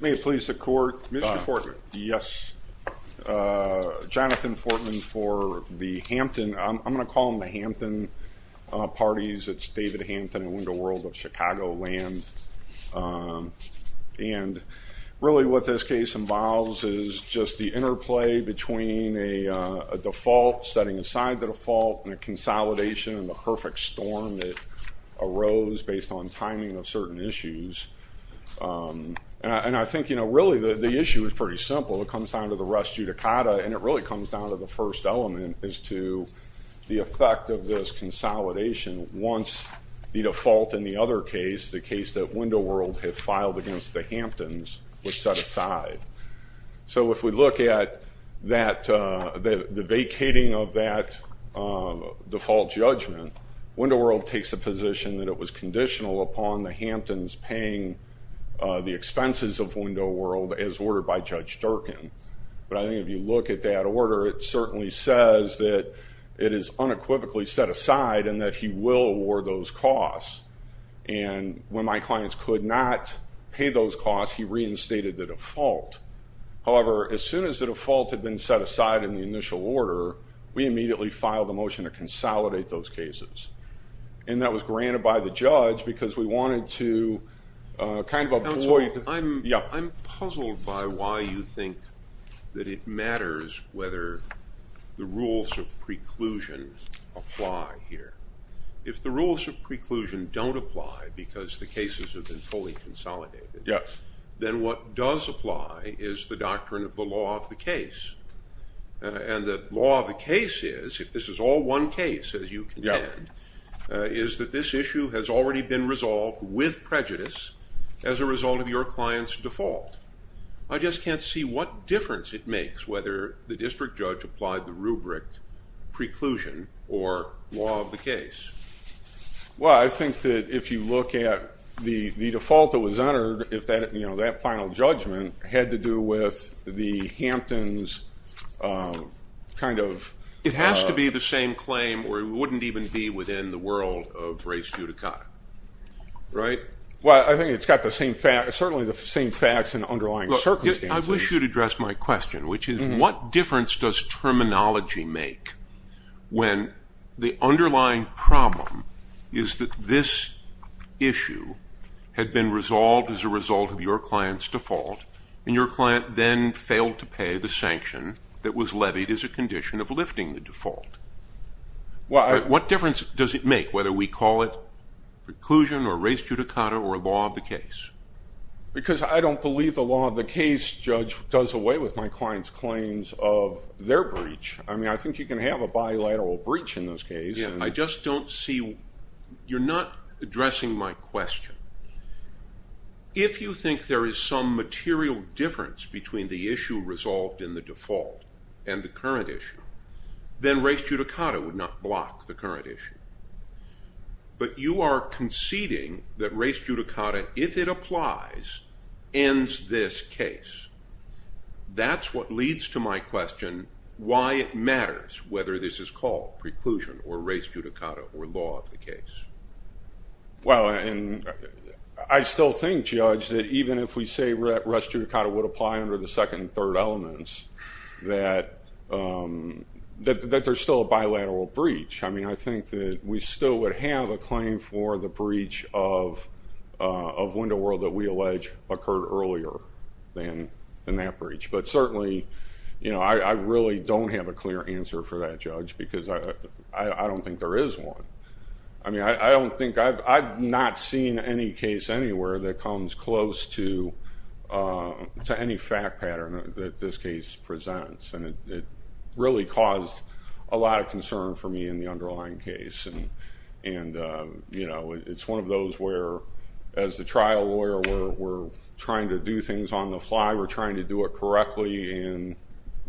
May it please the court. Mr. Fortman. Yes, Jonathan Fortman for the Hampton, I'm gonna call them the Hampton parties. It's David Hampton and Window World of Chicagoland. And really what this case involves is just the interplay between a default, setting aside the default, and a consolidation, and the perfect storm that arose based on timing of certain issues. And I think, you know, really the issue is pretty simple. It comes down to the res judicata and it really comes down to the first element is to the effect of this consolidation once the default in the other case, the case that Window World had filed against the Hamptons, was set aside. So if we look at the vacating of that default judgment, Window World takes a position that it was conditional upon the Hamptons paying the expenses of Window World as ordered by Judge Durkin. But I think if you look at that order it certainly says that it is unequivocally set aside and that he will award those costs. And when my client paid those costs, he reinstated the default. However, as soon as the default had been set aside in the initial order, we immediately filed a motion to consolidate those cases. And that was granted by the judge because we wanted to kind of avoid- I'm puzzled by why you think that it matters whether the rules of preclusion apply here. If the rules of preclusion don't apply because the cases have been fully consolidated, then what does apply is the doctrine of the law of the case. And the law of the case is, if this is all one case as you contend, is that this issue has already been resolved with prejudice as a result of your client's default. I just can't see what difference it makes whether the district judge applied the rubric preclusion or law of the case. Well, I think that if you look at the default that was honored, if that, you know, that final judgment had to do with the Hamptons kind of- It has to be the same claim or it wouldn't even be within the world of race judicata, right? Well, I think it's got the same facts, certainly the same facts and underlying circumstances. I wish you'd address my question, which is what difference does terminology make when the underlying problem is that this issue had been resolved as a result of your client's default and your client then failed to pay the sanction that was levied as a condition of lifting the default. What difference does it make whether we call it preclusion or race judicata? Well, the case judge does away with my client's claims of their breach. I mean, I think you can have a bilateral breach in this case. Yeah, I just don't see, you're not addressing my question. If you think there is some material difference between the issue resolved in the default and the current issue, then race judicata would not block the current issue. But you are conceding that race judicata, if it applies, ends this case. That's what leads to my question, why it matters whether this is called preclusion or race judicata or law of the case. Well, and I still think, Judge, that even if we say race judicata would apply under the second and third elements, that there's still a bilateral breach. I mean, I think that we still would have a claim for the breach of window world that we alleged occurred earlier than that breach. But certainly, you know, I really don't have a clear answer for that, Judge, because I don't think there is one. I mean, I don't think, I've not seen any case anywhere that comes close to any fact pattern that this case presents. And it really caused a lot of concern for me in the underlying case. And, you know, it's one of those where, as the trial lawyer, we're trying to do things on the fly. We're trying to do it correctly. And,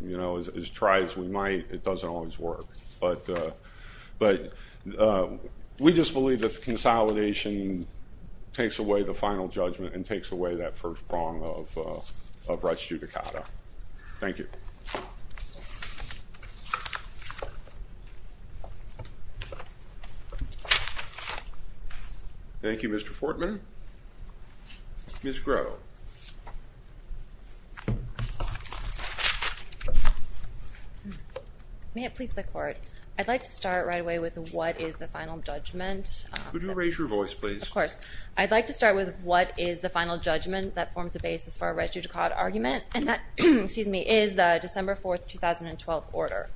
you know, as tried as we might, it doesn't always work. But we just believe that the consolidation takes away the final judgment and takes away that first prong of race judicata. Thank you. Thank you, Mr. Fortman. Ms. Groh. May it please the Court. I'd like to start right away with what is the final judgment. Could you raise your voice, please? Of course. I'd like to start with what is the final judgment that forms the basis for a is the December 4, 2012 order.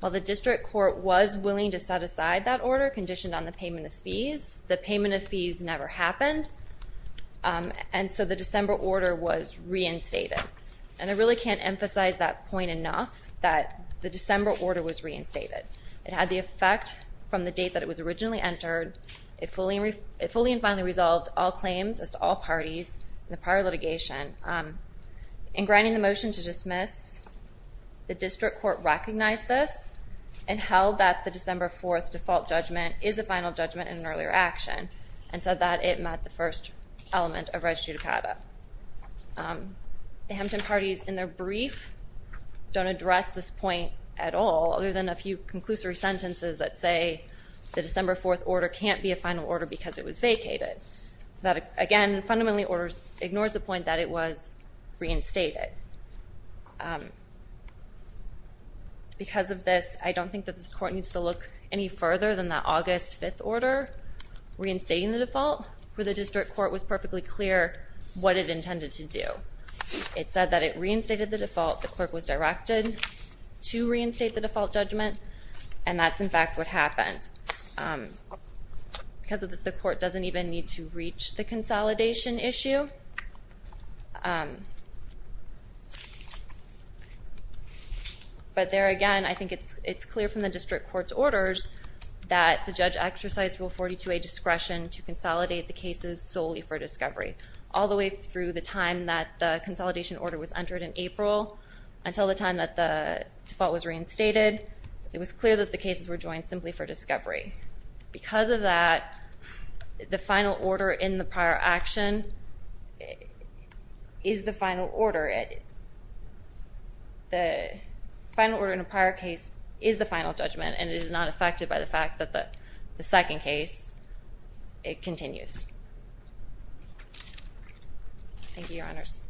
While the district court was willing to set aside that order, conditioned on the payment of fees, the payment of fees never happened. And so the December order was reinstated. And I really can't emphasize that point enough, that the December order was reinstated. It had the effect from the date that it was originally entered. It fully and finally motioned to dismiss. The district court recognized this and held that the December 4 default judgment is a final judgment in an earlier action, and said that it met the first element of race judicata. The Hampton parties, in their brief, don't address this point at all, other than a few conclusory sentences that say the December 4 order can't be a final order because it was vacated. That, again, fundamentally ignores the point that it was reinstated. Because of this, I don't think that this court needs to look any further than the August 5th order reinstating the default, where the district court was perfectly clear what it intended to do. It said that it reinstated the default, the clerk was directed to reinstate the default judgment, and that's, in fact, what happened. Because of this, the court doesn't even need to reach the consolidation issue. But there, again, I think it's clear from the district court's orders that the judge exercised Rule 42a discretion to consolidate the cases solely for discovery, all the way through the time that the consolidation order was entered in April, until the time that the default was reinstated. It was clear that the cases were joined simply for discovery. Because of that, the final order in a prior case is the final judgment, and it is not affected by the fact that the second case, it continues. Thank you, Your Honors.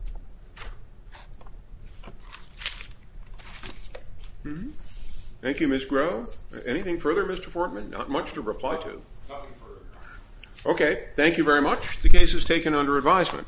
Thank you, Ms. Groh. Anything further, Mr. Fortman? Not much to reply to. Nothing further, Your Honor. Okay. Thank you very much. The case is taken under advisement.